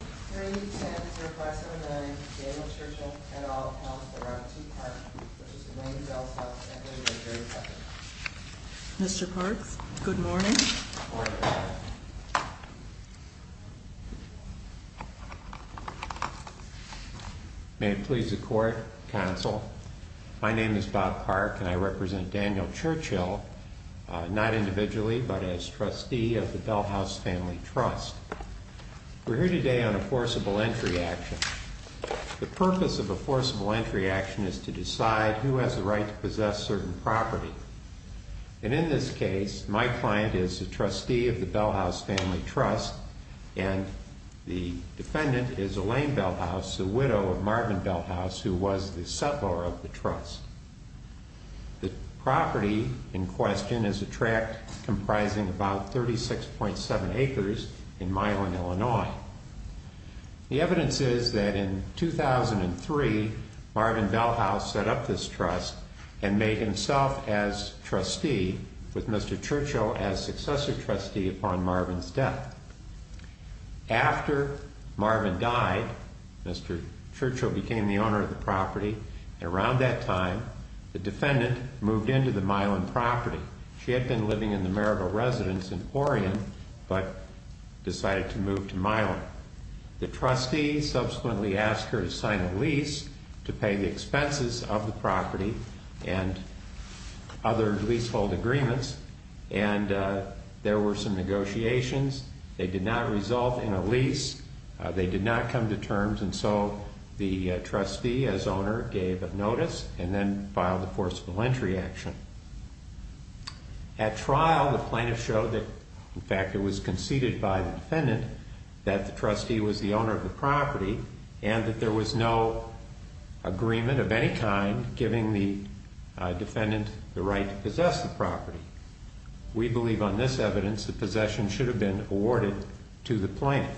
Is there any need to answer a question of the Daniel Churchill et al. House around 2 o'clock, which is the name of Belshause family, or is there a second question? The purpose of a forcible entry action is to decide who has the right to possess certain property. And in this case, my client is a trustee of the Belshause family trust, and the defendant is Elaine Belshause, the widow of Marvin Belshause, who was the settlor of the trust. The property in question is a tract comprising about 36.7 acres in Milan, Illinois. The evidence is that in 2003, Marvin Belshause set up this trust and made himself as trustee with Mr. Churchill as successor trustee upon Marvin's death. After Marvin died, Mr. Churchill became the owner of the property, and around that time, the defendant moved into the Milan property. She had been living in the Marigold Residence in Oregon, but decided to move to Milan. The trustee subsequently asked her to sign a lease to pay the expenses of the property and other leasehold agreements, and there were some negotiations. They did not resolve in a lease. They did not come to terms, and so the trustee as owner gave notice and then filed a forcible entry action. At trial, the plaintiff showed that, in fact, it was conceded by the defendant that the trustee was the owner of the property and that there was no agreement of any kind giving the defendant the right to possess the property. We believe on this evidence that possession should have been awarded to the plaintiff.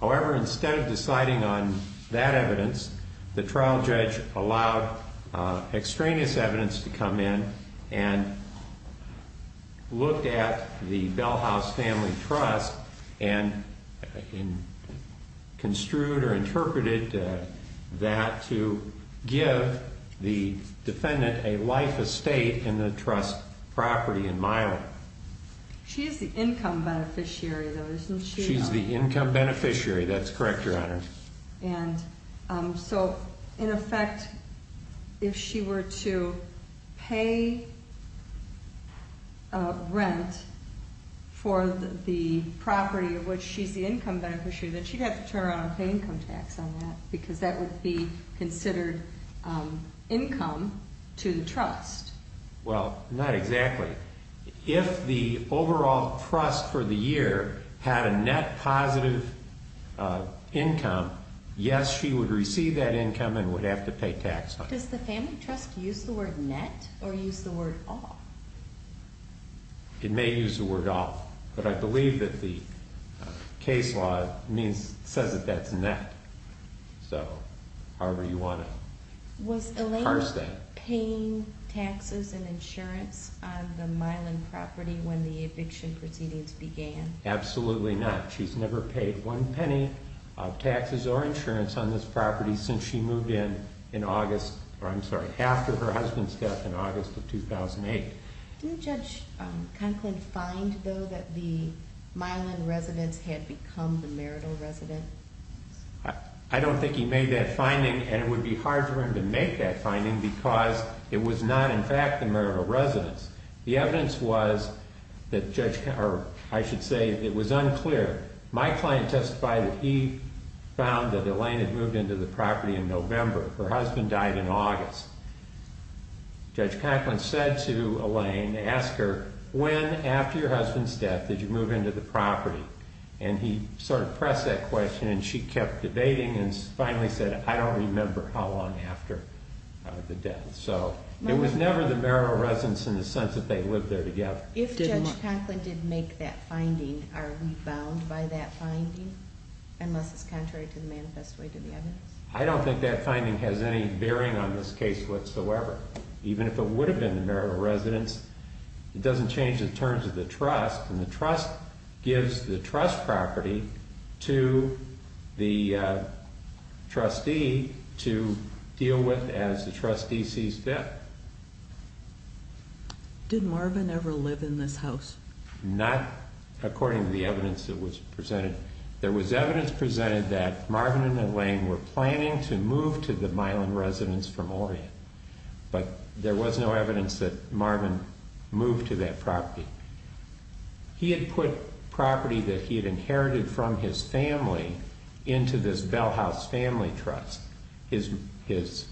However, instead of deciding on that evidence, the trial judge allowed extraneous evidence to come in and looked at the Belshause family trust and construed or interpreted that to give the defendant a life estate in the trust property in Milan. She's the income beneficiary, though, isn't she? She's the income beneficiary. That's correct, Your Honor. And so, in effect, if she were to pay rent for the property of which she's the income beneficiary, then she'd have to turn around and pay income tax on that because that would be considered income to the trust. Well, not exactly. If the overall trust for the year had a net positive income, yes, she would receive that income and would have to pay tax on it. Does the family trust use the word net or use the word all? It may use the word all, but I believe that the case law says that that's net, so however you want to parse that. Was Elaine paying taxes and insurance on the Milan property when the eviction proceedings began? Absolutely not. She's never paid one penny of taxes or insurance on this property since she moved in in August, or I'm sorry, after her husband's death in August of 2008. Did Judge Conklin find, though, that the Milan residents had become the marital residents? I don't think he made that finding, and it would be hard for him to make that finding because it was not, in fact, the marital residents. The evidence was that Judge, or I should say it was unclear. My client testified that he found that Elaine had moved into the property in November. Her husband died in August. Judge Conklin said to Elaine, asked her, when after your husband's death did you move into the property? And he sort of pressed that question, and she kept debating and finally said, I don't remember how long after the death. So it was never the marital residents in the sense that they lived there together. If Judge Conklin did make that finding, are we bound by that finding, unless it's contrary to the manifest way to the evidence? I don't think that finding has any bearing on this case whatsoever, even if it would have been the marital residents. It doesn't change the terms of the trust, and the trust gives the trust property to the trustee to deal with as the trustee sees fit. Did Marvin ever live in this house? Not according to the evidence that was presented. There was evidence presented that Marvin and Elaine were planning to move to the Milan residence from Orion. But there was no evidence that Marvin moved to that property. He had put property that he had inherited from his family into this Bell House family trust. His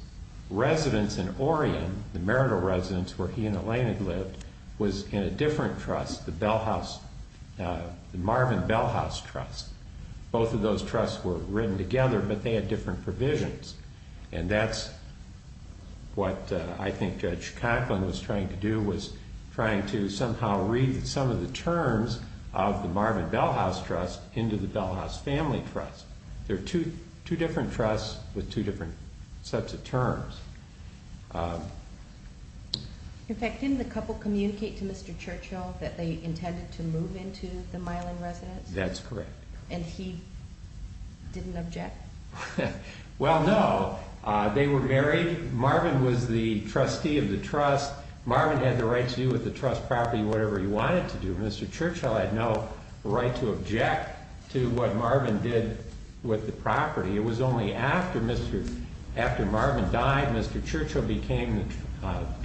residence in Orion, the marital residence where he and Elaine had lived, was in a different trust, the Marvin Bell House trust. Both of those trusts were written together, but they had different provisions. And that's what I think Judge Conklin was trying to do, was trying to somehow read some of the terms of the Marvin Bell House trust into the Bell House family trust. There are two different trusts with two different sets of terms. In fact, didn't the couple communicate to Mr. Churchill that they intended to move into the Milan residence? That's correct. And he didn't object? Well, no. They were married. Marvin was the trustee of the trust. Marvin had the right to do with the trust property whatever he wanted to do. Mr. Churchill had no right to object to what Marvin did with the property. It was only after Marvin died, Mr. Churchill became the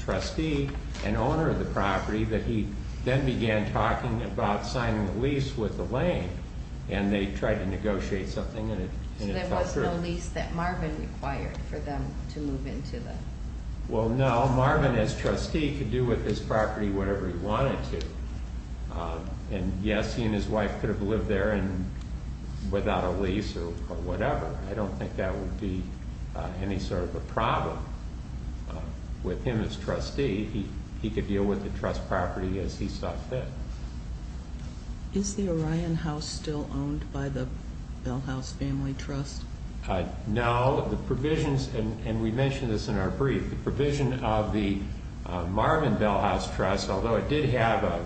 trustee and owner of the property, that he then began talking about signing the lease with Elaine. And they tried to negotiate something. So there was no lease that Marvin required for them to move into then? Well, no. Marvin as trustee could do with his property whatever he wanted to. And yes, he and his wife could have lived there without a lease or whatever. I don't think that would be any sort of a problem with him as trustee. He could deal with the trust property as he saw fit. Is the Orion House still owned by the Bell House family trust? No. The provisions, and we mentioned this in our brief, the provision of the Marvin Bell House trust, although it did have a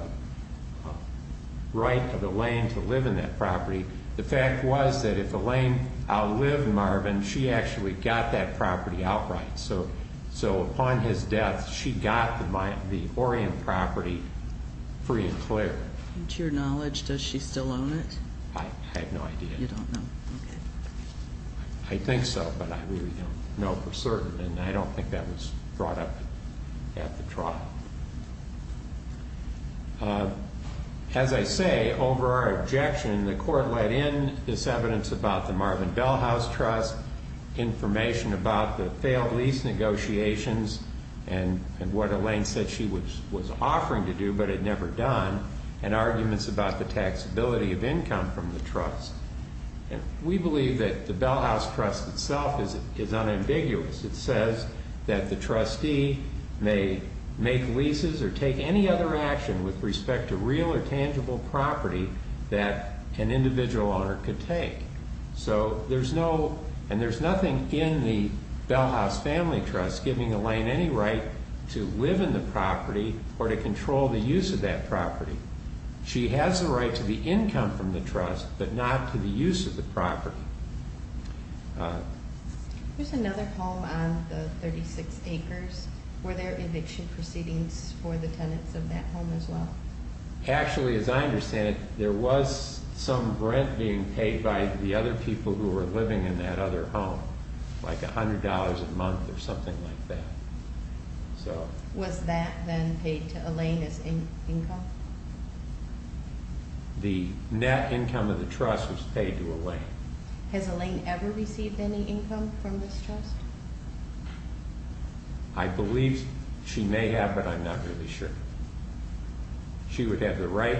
right of Elaine to live in that property, the fact was that if Elaine outlived Marvin, she actually got that property outright. So upon his death, she got the Orion property free and clear. To your knowledge, does she still own it? I have no idea. You don't know. Okay. I think so, but I really don't know for certain. And I don't think that was brought up at the trial. As I say, over our objection, the court let in this evidence about the Marvin Bell House trust, information about the failed lease negotiations and what Elaine said she was offering to do but had never done, and arguments about the taxability of income from the trust. We believe that the Bell House trust itself is unambiguous. It says that the trustee may make leases or take any other action with respect to real or tangible property that an individual owner could take. So there's no, and there's nothing in the Bell House family trust giving Elaine any right to live in the property or to control the use of that property. She has the right to the income from the trust but not to the use of the property. There's another home on the 36 acres. Were there eviction proceedings for the tenants of that home as well? Actually, as I understand it, there was some rent being paid by the other people who were living in that other home, like $100 a month or something like that. Was that then paid to Elaine as income? The net income of the trust was paid to Elaine. Has Elaine ever received any income from this trust? I believe she may have, but I'm not really sure. She would have the right,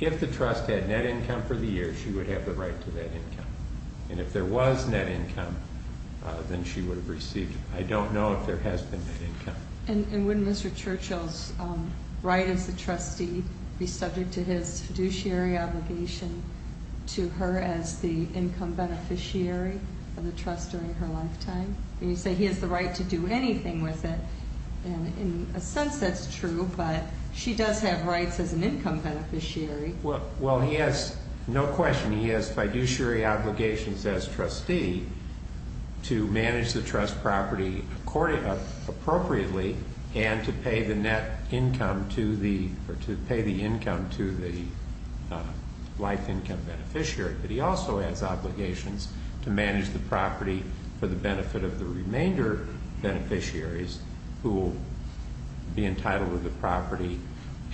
if the trust had net income for the year, she would have the right to that income. And if there was net income, then she would have received it. I don't know if there has been net income. And wouldn't Mr. Churchill's right as a trustee be subject to his fiduciary obligation to her as the income beneficiary of the trust during her lifetime? You say he has the right to do anything with it, and in a sense that's true, but she does have rights as an income beneficiary. Well, he has no question. He has fiduciary obligations as trustee to manage the trust property appropriately and to pay the income to the life income beneficiary, but he also has obligations to manage the property for the benefit of the remainder beneficiaries who will be entitled to the property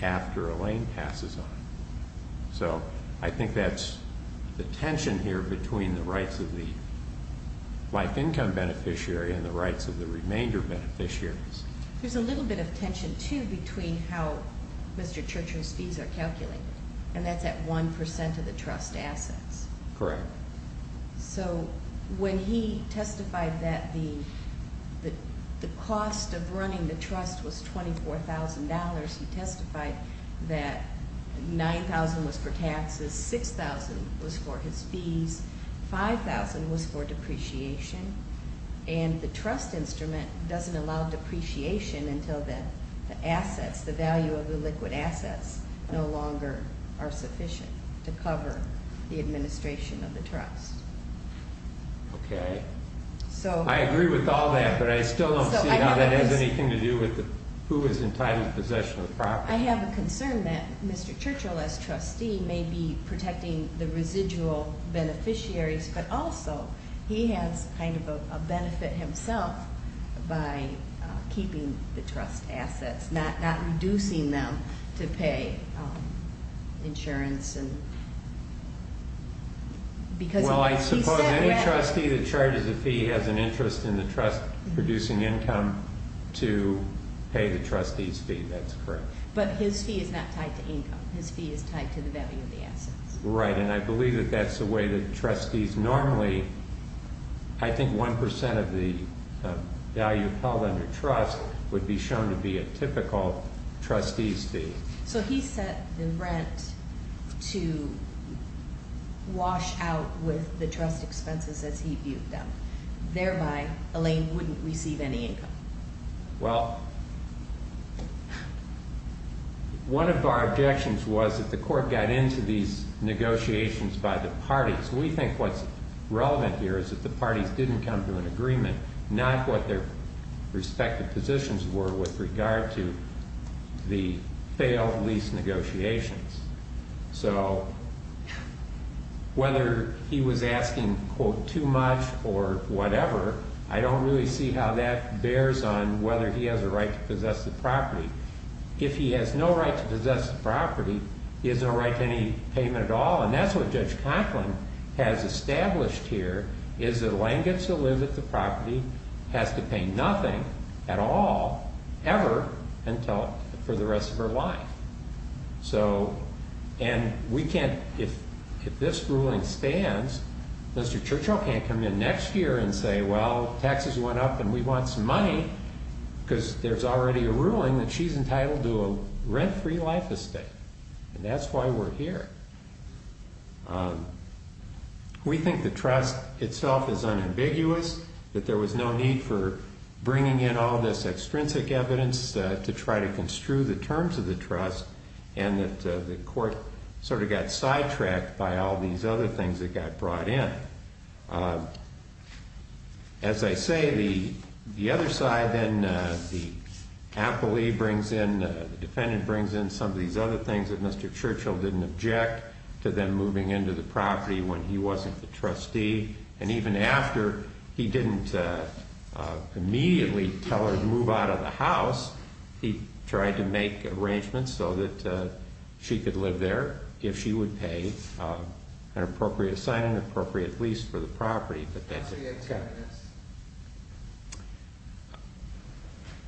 after Elaine passes on it. So I think that's the tension here between the rights of the life income beneficiary and the rights of the remainder beneficiaries. There's a little bit of tension, too, between how Mr. Churchill's fees are calculated, and that's at 1% of the trust assets. Correct. So when he testified that the cost of running the trust was $24,000, he testified that $9,000 was for taxes, $6,000 was for his fees, $5,000 was for depreciation, and the trust instrument doesn't allow depreciation until the assets, the value of the liquid assets, no longer are sufficient to cover the administration of the trust. Okay. I agree with all that, but I still don't see how that has anything to do with who is entitled to possession of the property. I have a concern that Mr. Churchill, as trustee, may be protecting the residual beneficiaries, but also he has kind of a benefit himself by keeping the trust assets, not reducing them to pay insurance. Well, I suppose any trustee that charges a fee has an interest in the trust producing income to pay the trustee's fee. That's correct. But his fee is not tied to income. His fee is tied to the value of the assets. Right, and I believe that that's the way that trustees normally, I think 1% of the value held under trust would be shown to be a typical trustee's fee. So he set the rent to wash out with the trust expenses as he viewed them. Thereby, Elaine wouldn't receive any income. Well, one of our objections was that the court got into these negotiations by the parties. We think what's relevant here is that the parties didn't come to an agreement, not what their respective positions were with regard to the failed lease negotiations. So whether he was asking, quote, too much or whatever, I don't really see how that bears on whether he has a right to possess the property. If he has no right to possess the property, he has no right to any payment at all, and that's what Judge Conklin has established here, is that Elaine gets to live at the property, has to pay nothing at all, ever, for the rest of her life. So, and we can't, if this ruling stands, Mr. Churchill can't come in next year and say, well, taxes went up and we want some money, because there's already a ruling that she's entitled to a rent-free life estate, and that's why we're here. We think the trust itself is unambiguous, that there was no need for bringing in all this extrinsic evidence to try to construe the terms of the trust, and that the court sort of got sidetracked by all these other things that got brought in. As I say, the other side, then, the appellee brings in, the defendant brings in some of these other things that Mr. Churchill didn't object to them moving into the property when he wasn't the trustee, and even after he didn't immediately tell her to move out of the house, he tried to make arrangements so that she could live there, if she would pay an appropriate sign and an appropriate lease for the property.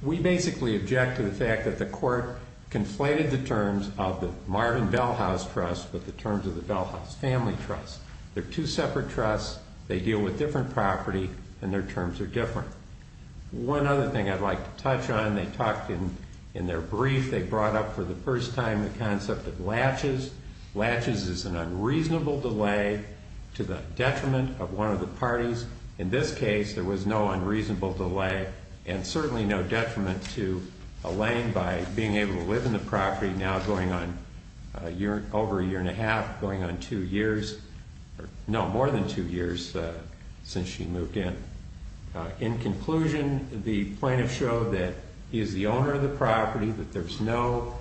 We basically object to the fact that the court conflated the terms of the Marvin Bell House Trust with the terms of the Bell House Family Trust. They're two separate trusts, they deal with different property, and their terms are different. One other thing I'd like to touch on, they talked in their brief, they brought up for the first time the concept of latches. Latches is an unreasonable delay to the detriment of one of the parties. In this case, there was no unreasonable delay, and certainly no detriment to Elaine by being able to live in the property, now going on over a year and a half, going on two years, no, more than two years since she moved in. In conclusion, the plaintiff showed that he is the owner of the property, that there's no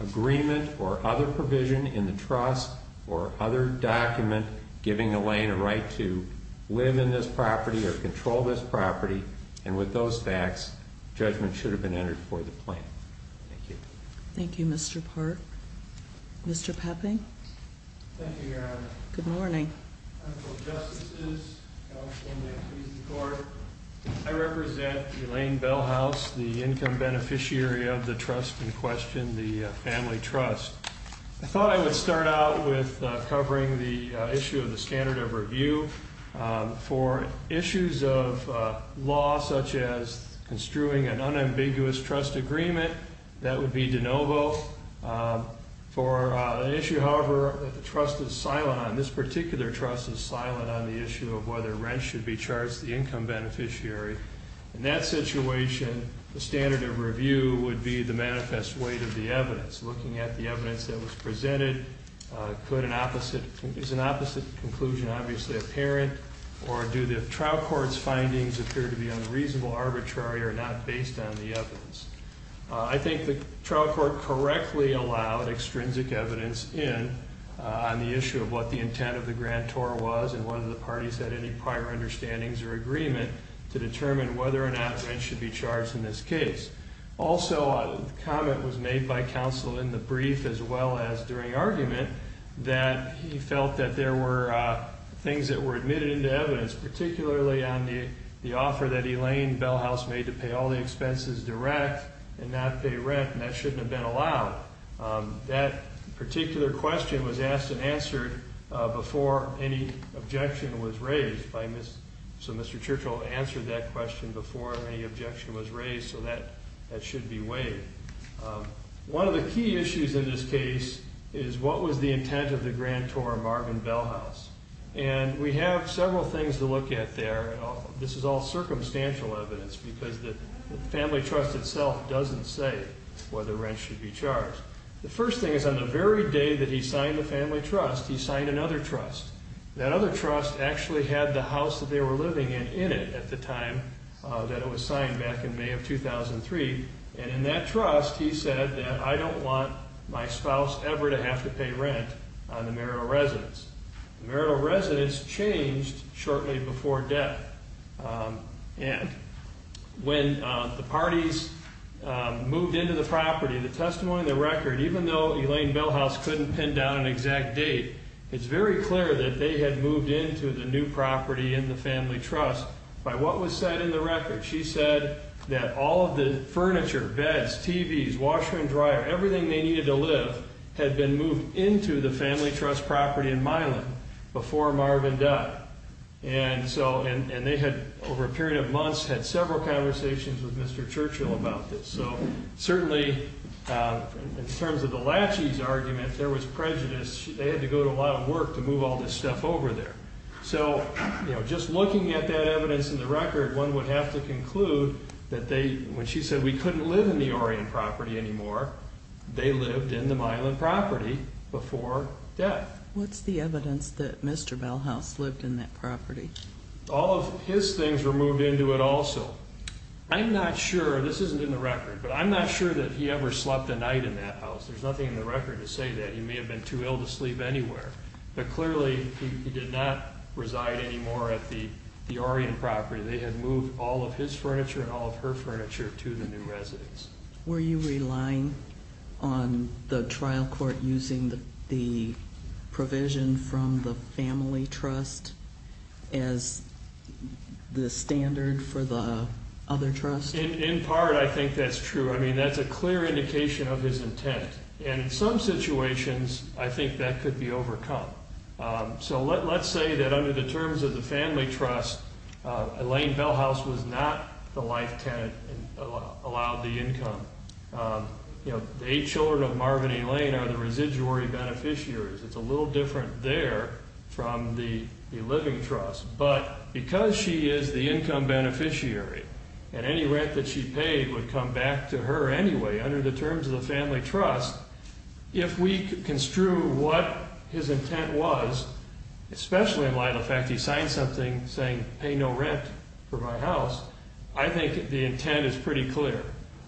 agreement or other provision in the trust or other document giving Elaine a right to live in this property or control this property, and with those facts, judgment should have been entered for the plaintiff. Thank you. Thank you, Mr. Park. Mr. Pepping. Thank you, Your Honor. Good morning. Honorable Justices, Counsel, and members of the Court, I represent Elaine Bell House, the income beneficiary of the trust in question, the Family Trust. I thought I would start out with covering the issue of the standard of review. For issues of law, such as construing an unambiguous trust agreement, that would be de novo. For an issue, however, that the trust is silent on, this particular trust is silent on the issue of whether rent should be charged to the income beneficiary. In that situation, the standard of review would be the manifest weight of the evidence. Looking at the evidence that was presented, is an opposite conclusion obviously apparent, or do the trial court's findings appear to be unreasonable, arbitrary, or not based on the evidence? I think the trial court correctly allowed extrinsic evidence in on the issue of what the intent of the grantor was and whether the parties had any prior understandings or agreement to determine whether or not rent should be charged in this case. Also, a comment was made by counsel in the brief as well as during argument that he felt that there were things that were admitted into evidence, particularly on the offer that Elaine Bell House made to pay all the expenses direct and not pay rent, and that shouldn't have been allowed. That particular question was asked and answered before any objection was raised. So Mr. Churchill answered that question before any objection was raised, so that should be weighed. One of the key issues in this case is what was the intent of the grantor, Marvin Bell House. And we have several things to look at there. This is all circumstantial evidence because the family trust itself doesn't say whether rent should be charged. The first thing is on the very day that he signed the family trust, he signed another trust. That other trust actually had the house that they were living in in it at the time that it was signed back in May of 2003. And in that trust he said that I don't want my spouse ever to have to pay rent on the marital residence. The marital residence changed shortly before death. And when the parties moved into the property, the testimony in the record, even though Elaine Bell House couldn't pin down an exact date, it's very clear that they had moved into the new property in the family trust by what was said in the record. She said that all of the furniture, beds, TVs, washer and dryer, everything they needed to live had been moved into the family trust property in Milan before Marvin died. And they had, over a period of months, had several conversations with Mr. Churchill about this. So certainly in terms of the Lachey's argument, there was prejudice. They had to go to a lot of work to move all this stuff over there. So just looking at that evidence in the record, one would have to conclude that when she said we couldn't live in the Orion property anymore, they lived in the Milan property before death. What's the evidence that Mr. Bell House lived in that property? All of his things were moved into it also. I'm not sure, this isn't in the record, but I'm not sure that he ever slept a night in that house. There's nothing in the record to say that. He may have been too ill to sleep anywhere. But clearly he did not reside anymore at the Orion property. They had moved all of his furniture and all of her furniture to the new residence. Were you relying on the trial court using the provision from the family trust as the standard for the other trust? In part, I think that's true. I mean, that's a clear indication of his intent. And in some situations, I think that could be overcome. So let's say that under the terms of the family trust, Elaine Bell House was not the life tenant and allowed the income. The eight children of Marvin and Elaine are the residuary beneficiaries. It's a little different there from the living trust. But because she is the income beneficiary and any rent that she paid would come back to her anyway, under the terms of the family trust, if we construe what his intent was, especially in light of the fact he signed something saying pay no rent for my house, I think the intent is pretty clear.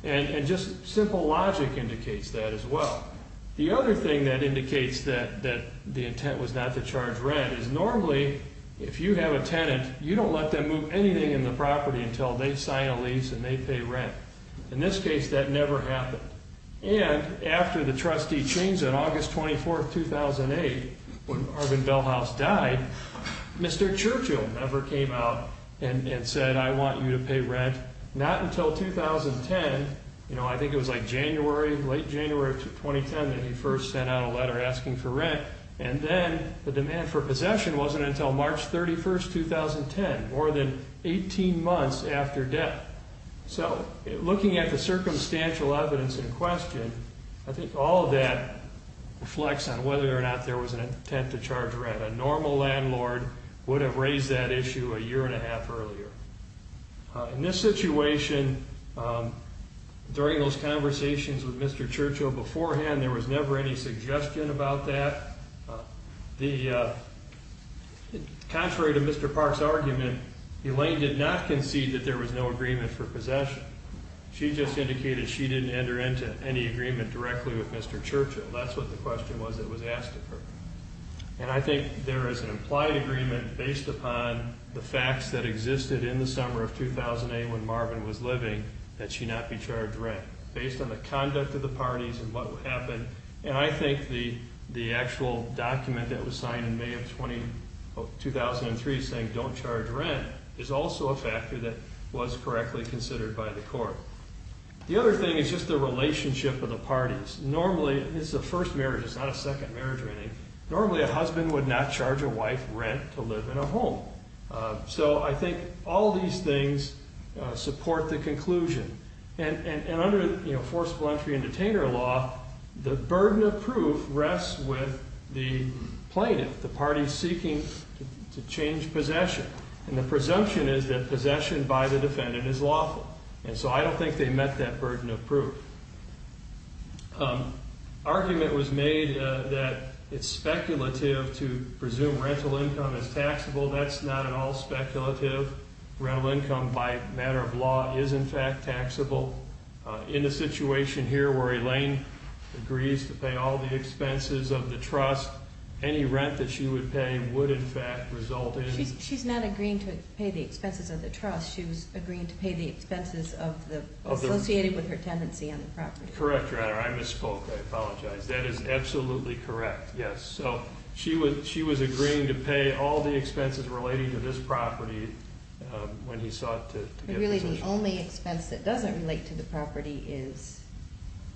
And just simple logic indicates that as well. The other thing that indicates that the intent was not to charge rent is normally if you have a tenant, you don't let them move anything in the property until they sign a lease and they pay rent. In this case, that never happened. And after the trustee changed on August 24, 2008, when Marvin Bell House died, Mr. Churchill never came out and said, I want you to pay rent, not until 2010. You know, I think it was like January, late January of 2010 that he first sent out a letter asking for rent. And then the demand for possession wasn't until March 31, 2010, more than 18 months after death. So looking at the circumstantial evidence in question, I think all of that reflects on whether or not there was an intent to charge rent. A normal landlord would have raised that issue a year and a half earlier. In this situation, during those conversations with Mr. Churchill beforehand, there was never any suggestion about that. Contrary to Mr. Park's argument, Elaine did not concede that there was no agreement for possession. She just indicated she didn't enter into any agreement directly with Mr. Churchill. That's what the question was that was asked of her. And I think there is an implied agreement based upon the facts that existed in the summer of 2008 when Marvin was living that she not be charged rent, based on the conduct of the parties and what happened. And I think the actual document that was signed in May of 2003 saying don't charge rent is also a factor that was correctly considered by the court. The other thing is just the relationship of the parties. Normally, this is a first marriage, it's not a second marriage or anything. Normally a husband would not charge a wife rent to live in a home. So I think all these things support the conclusion. And under forcible entry and detainer law, the burden of proof rests with the plaintiff, the party seeking to change possession. And the presumption is that possession by the defendant is lawful. And so I don't think they met that burden of proof. Argument was made that it's speculative to presume rental income is taxable. That's not at all speculative. Rental income by matter of law is, in fact, taxable. In the situation here where Elaine agrees to pay all the expenses of the trust, any rent that she would pay would, in fact, result in... She's not agreeing to pay the expenses of the trust. She was agreeing to pay the expenses associated with her tenancy on the property. Correct, Your Honor. I misspoke. I apologize. That is absolutely correct, yes. So she was agreeing to pay all the expenses relating to this property when he sought to get possession. Really, the only expense that doesn't relate to the property is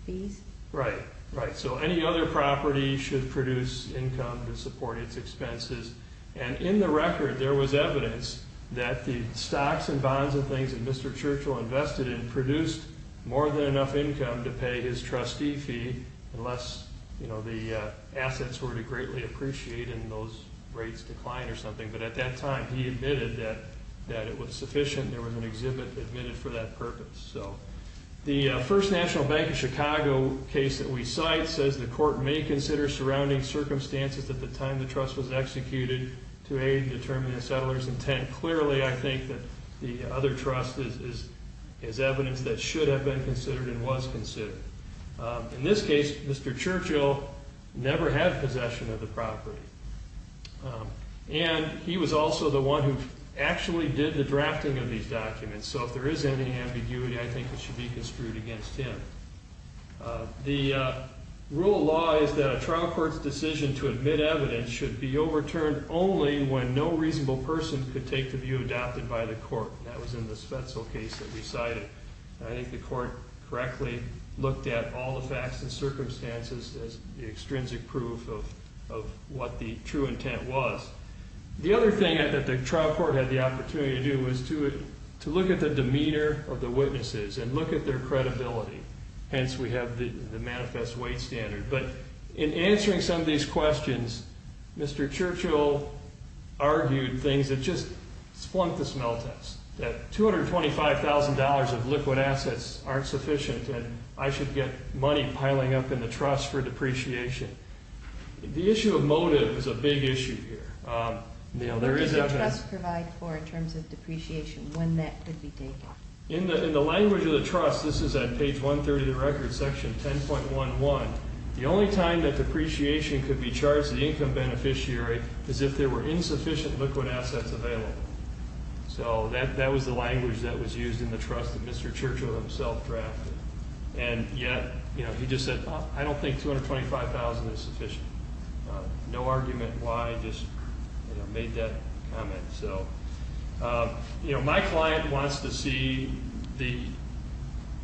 fees? Right, right. So any other property should produce income to support its expenses. And in the record, there was evidence that the stocks and bonds and things that Mr. Churchill invested in produced more than enough income to pay his trustee fee unless the assets were to greatly appreciate and those rates declined or something. But at that time, he admitted that it was sufficient. There was an exhibit admitted for that purpose. The First National Bank of Chicago case that we cite says the court may consider surrounding circumstances at the time the trust was executed to aid in determining the settler's intent. And clearly, I think that the other trust has evidence that should have been considered and was considered. In this case, Mr. Churchill never had possession of the property. And he was also the one who actually did the drafting of these documents. So if there is any ambiguity, I think it should be construed against him. The rule of law is that a trial court's decision to admit evidence should be overturned only when no reasonable person could take the view adopted by the court. That was in the Spetzel case that we cited. I think the court correctly looked at all the facts and circumstances as the extrinsic proof of what the true intent was. The other thing that the trial court had the opportunity to do was to look at the demeanor of the witnesses and look at their credibility. Hence, we have the manifest weight standard. But in answering some of these questions, Mr. Churchill argued things that just splunked the smell test, that $225,000 of liquid assets aren't sufficient and I should get money piling up in the trust for depreciation. The issue of motive is a big issue here. What does the trust provide for in terms of depreciation? When that could be taken? In the language of the trust, this is at page 130 of the record, section 10.11, the only time that depreciation could be charged to the income beneficiary is if there were insufficient liquid assets available. That was the language that was used in the trust that Mr. Churchill himself drafted. Yet, he just said, I don't think $225,000 is sufficient. No argument why, just made that comment. My client wants to see the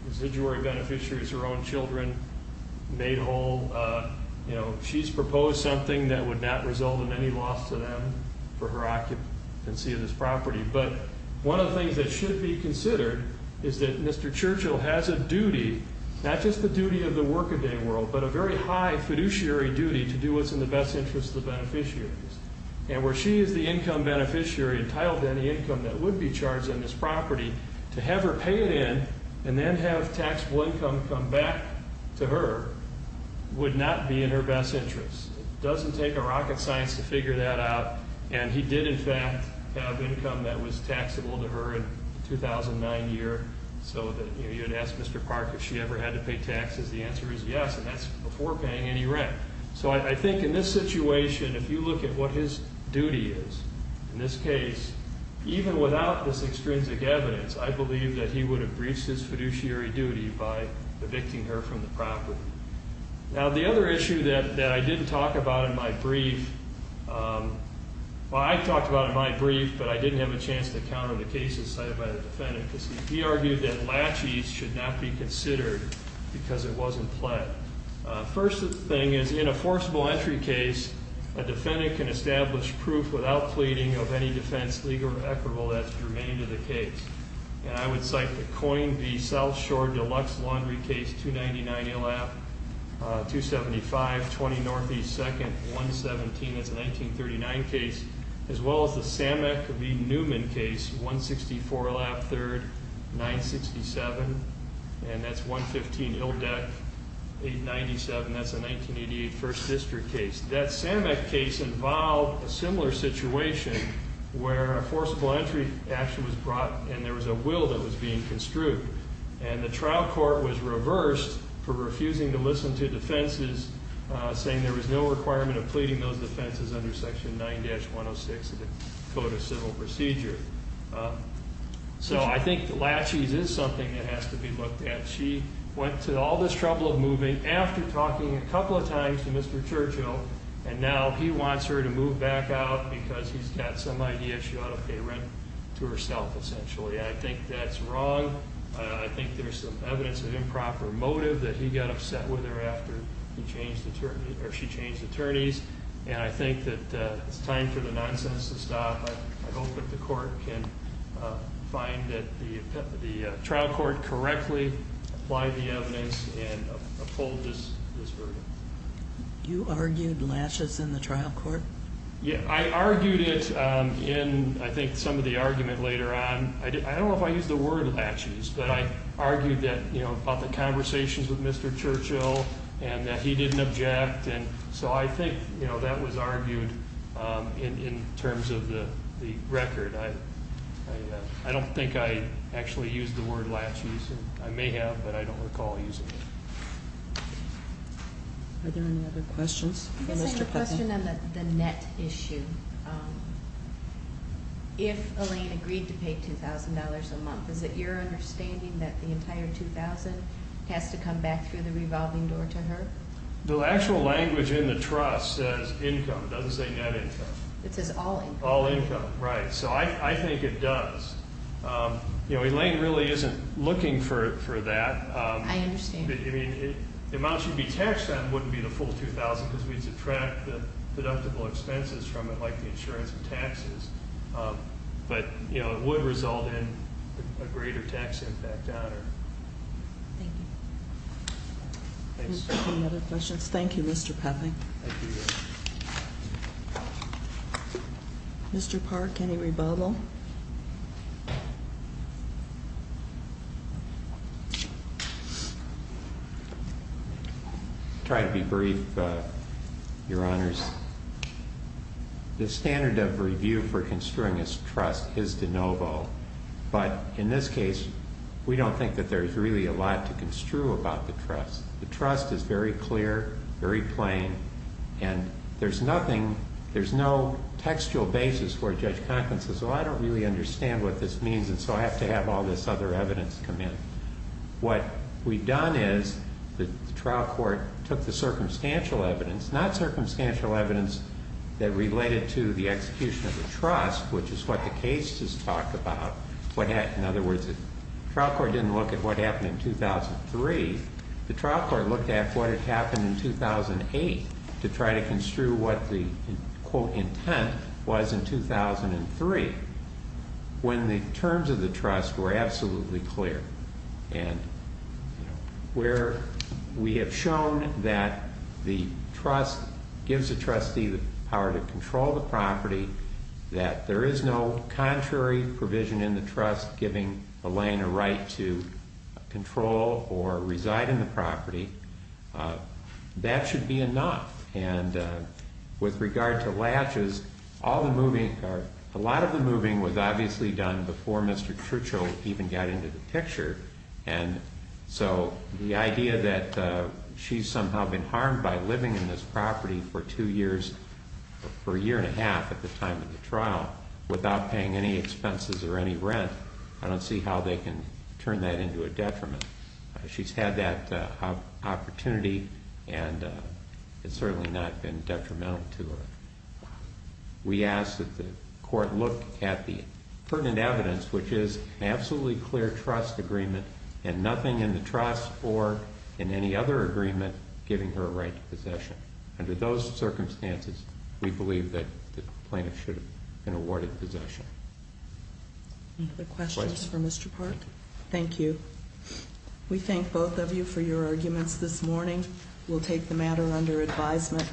residual beneficiaries, her own children, made whole. She's proposed something that would not result in any loss to them for her occupancy of this property. But one of the things that should be considered is that Mr. Churchill has a duty, not just the duty of the work-a-day world, but a very high fiduciary duty to do what's in the best interest of the beneficiaries. And where she is the income beneficiary entitled to any income that would be charged on this property, to have her pay it in and then have taxable income come back to her would not be in her best interest. It doesn't take a rocket science to figure that out. And he did, in fact, have income that was taxable to her in the 2009 year. So you'd ask Mr. Park if she ever had to pay taxes. The answer is yes, and that's before paying any rent. So I think in this situation, if you look at what his duty is in this case, even without this extrinsic evidence, I believe that he would have breached his fiduciary duty by evicting her from the property. Now, the other issue that I didn't talk about in my brief, well, I talked about it in my brief, but I didn't have a chance to counter the cases cited by the defendant, because he argued that laches should not be considered because it wasn't pled. First thing is, in a forcible entry case, a defendant can establish proof without pleading of any defense legal or equitable that's germane to the case. And I would cite the Coyne v. South Shore Deluxe Laundry case, 299 Illap, 275, 20 Northeast 2nd, 117. That's a 1939 case. As well as the Samick v. Newman case, 164 Illap 3rd, 967, and that's 115 Illdeck. 897, that's a 1988 First District case. That Samick case involved a similar situation where a forcible entry action was brought and there was a will that was being construed. And the trial court was reversed for refusing to listen to defenses, saying there was no requirement of pleading those defenses under Section 9-106 of the Code of Civil Procedure. So I think laches is something that has to be looked at. She went to all this trouble of moving after talking a couple of times to Mr. Churchill, and now he wants her to move back out because he's got some idea she ought to pay rent to herself, essentially. And I think that's wrong. I think there's some evidence of improper motive that he got upset with her after she changed attorneys. And I think that it's time for the nonsense to stop. I hope that the court can find that the trial court correctly applied the evidence and uphold this verdict. You argued laches in the trial court? Yeah, I argued it in, I think, some of the argument later on. I don't know if I used the word laches, but I argued that, you know, about the conversations with Mr. Churchill and that he didn't object. And so I think, you know, that was argued in terms of the record. I don't think I actually used the word laches. I may have, but I don't recall using it. Are there any other questions? I guess I have a question on the net issue. If Elaine agreed to pay $2,000 a month, is it your understanding that the entire $2,000 has to come back through the revolving door to her? The actual language in the trust says income. It doesn't say net income. It says all income. All income, right. So I think it does. You know, Elaine really isn't looking for that. I understand. I mean, the amount she'd be taxed on wouldn't be the full $2,000 because we'd subtract the deductible expenses from it, like the insurance and taxes. But, you know, it would result in a greater tax impact on her. Thank you. Any other questions? Thank you, Mr. Peffing. Mr. Park, any rebuttal? I'll try to be brief, Your Honors. The standard of review for construing a trust is de novo. But in this case, we don't think that there's really a lot to construe about the trust. The trust is very clear, very plain, and there's nothing, there's no textual basis where Judge Conklin says, well, I don't really understand what this means and so I have to have all this other evidence come in. What we've done is the trial court took the circumstantial evidence, not circumstantial evidence that related to the execution of the trust, which is what the case just talked about. In other words, the trial court didn't look at what happened in 2003. The trial court looked at what had happened in 2008 to try to construe what the, quote, intent was in 2003, when the terms of the trust were absolutely clear. And where we have shown that the trust gives the trustee the power to control the property, that there is no contrary provision in the trust giving Elaine a right to control or reside in the property, that should be enough. And with regard to latches, all the moving, a lot of the moving was obviously done before Mr. Churchill even got into the picture. And so the idea that she's somehow been harmed by living in this property for two years, for a year and a half at the time of the trial, without paying any expenses or any rent, I don't see how they can turn that into a detriment. She's had that opportunity and it's certainly not been detrimental to her. We asked that the court look at the pertinent evidence, which is an absolutely clear trust agreement and nothing in the trust or in any other agreement giving her a right to possession. Under those circumstances, we believe that the plaintiff should have been awarded possession. Any other questions for Mr. Park? Thank you. We thank both of you for your arguments this morning. We'll take the matter under advisement.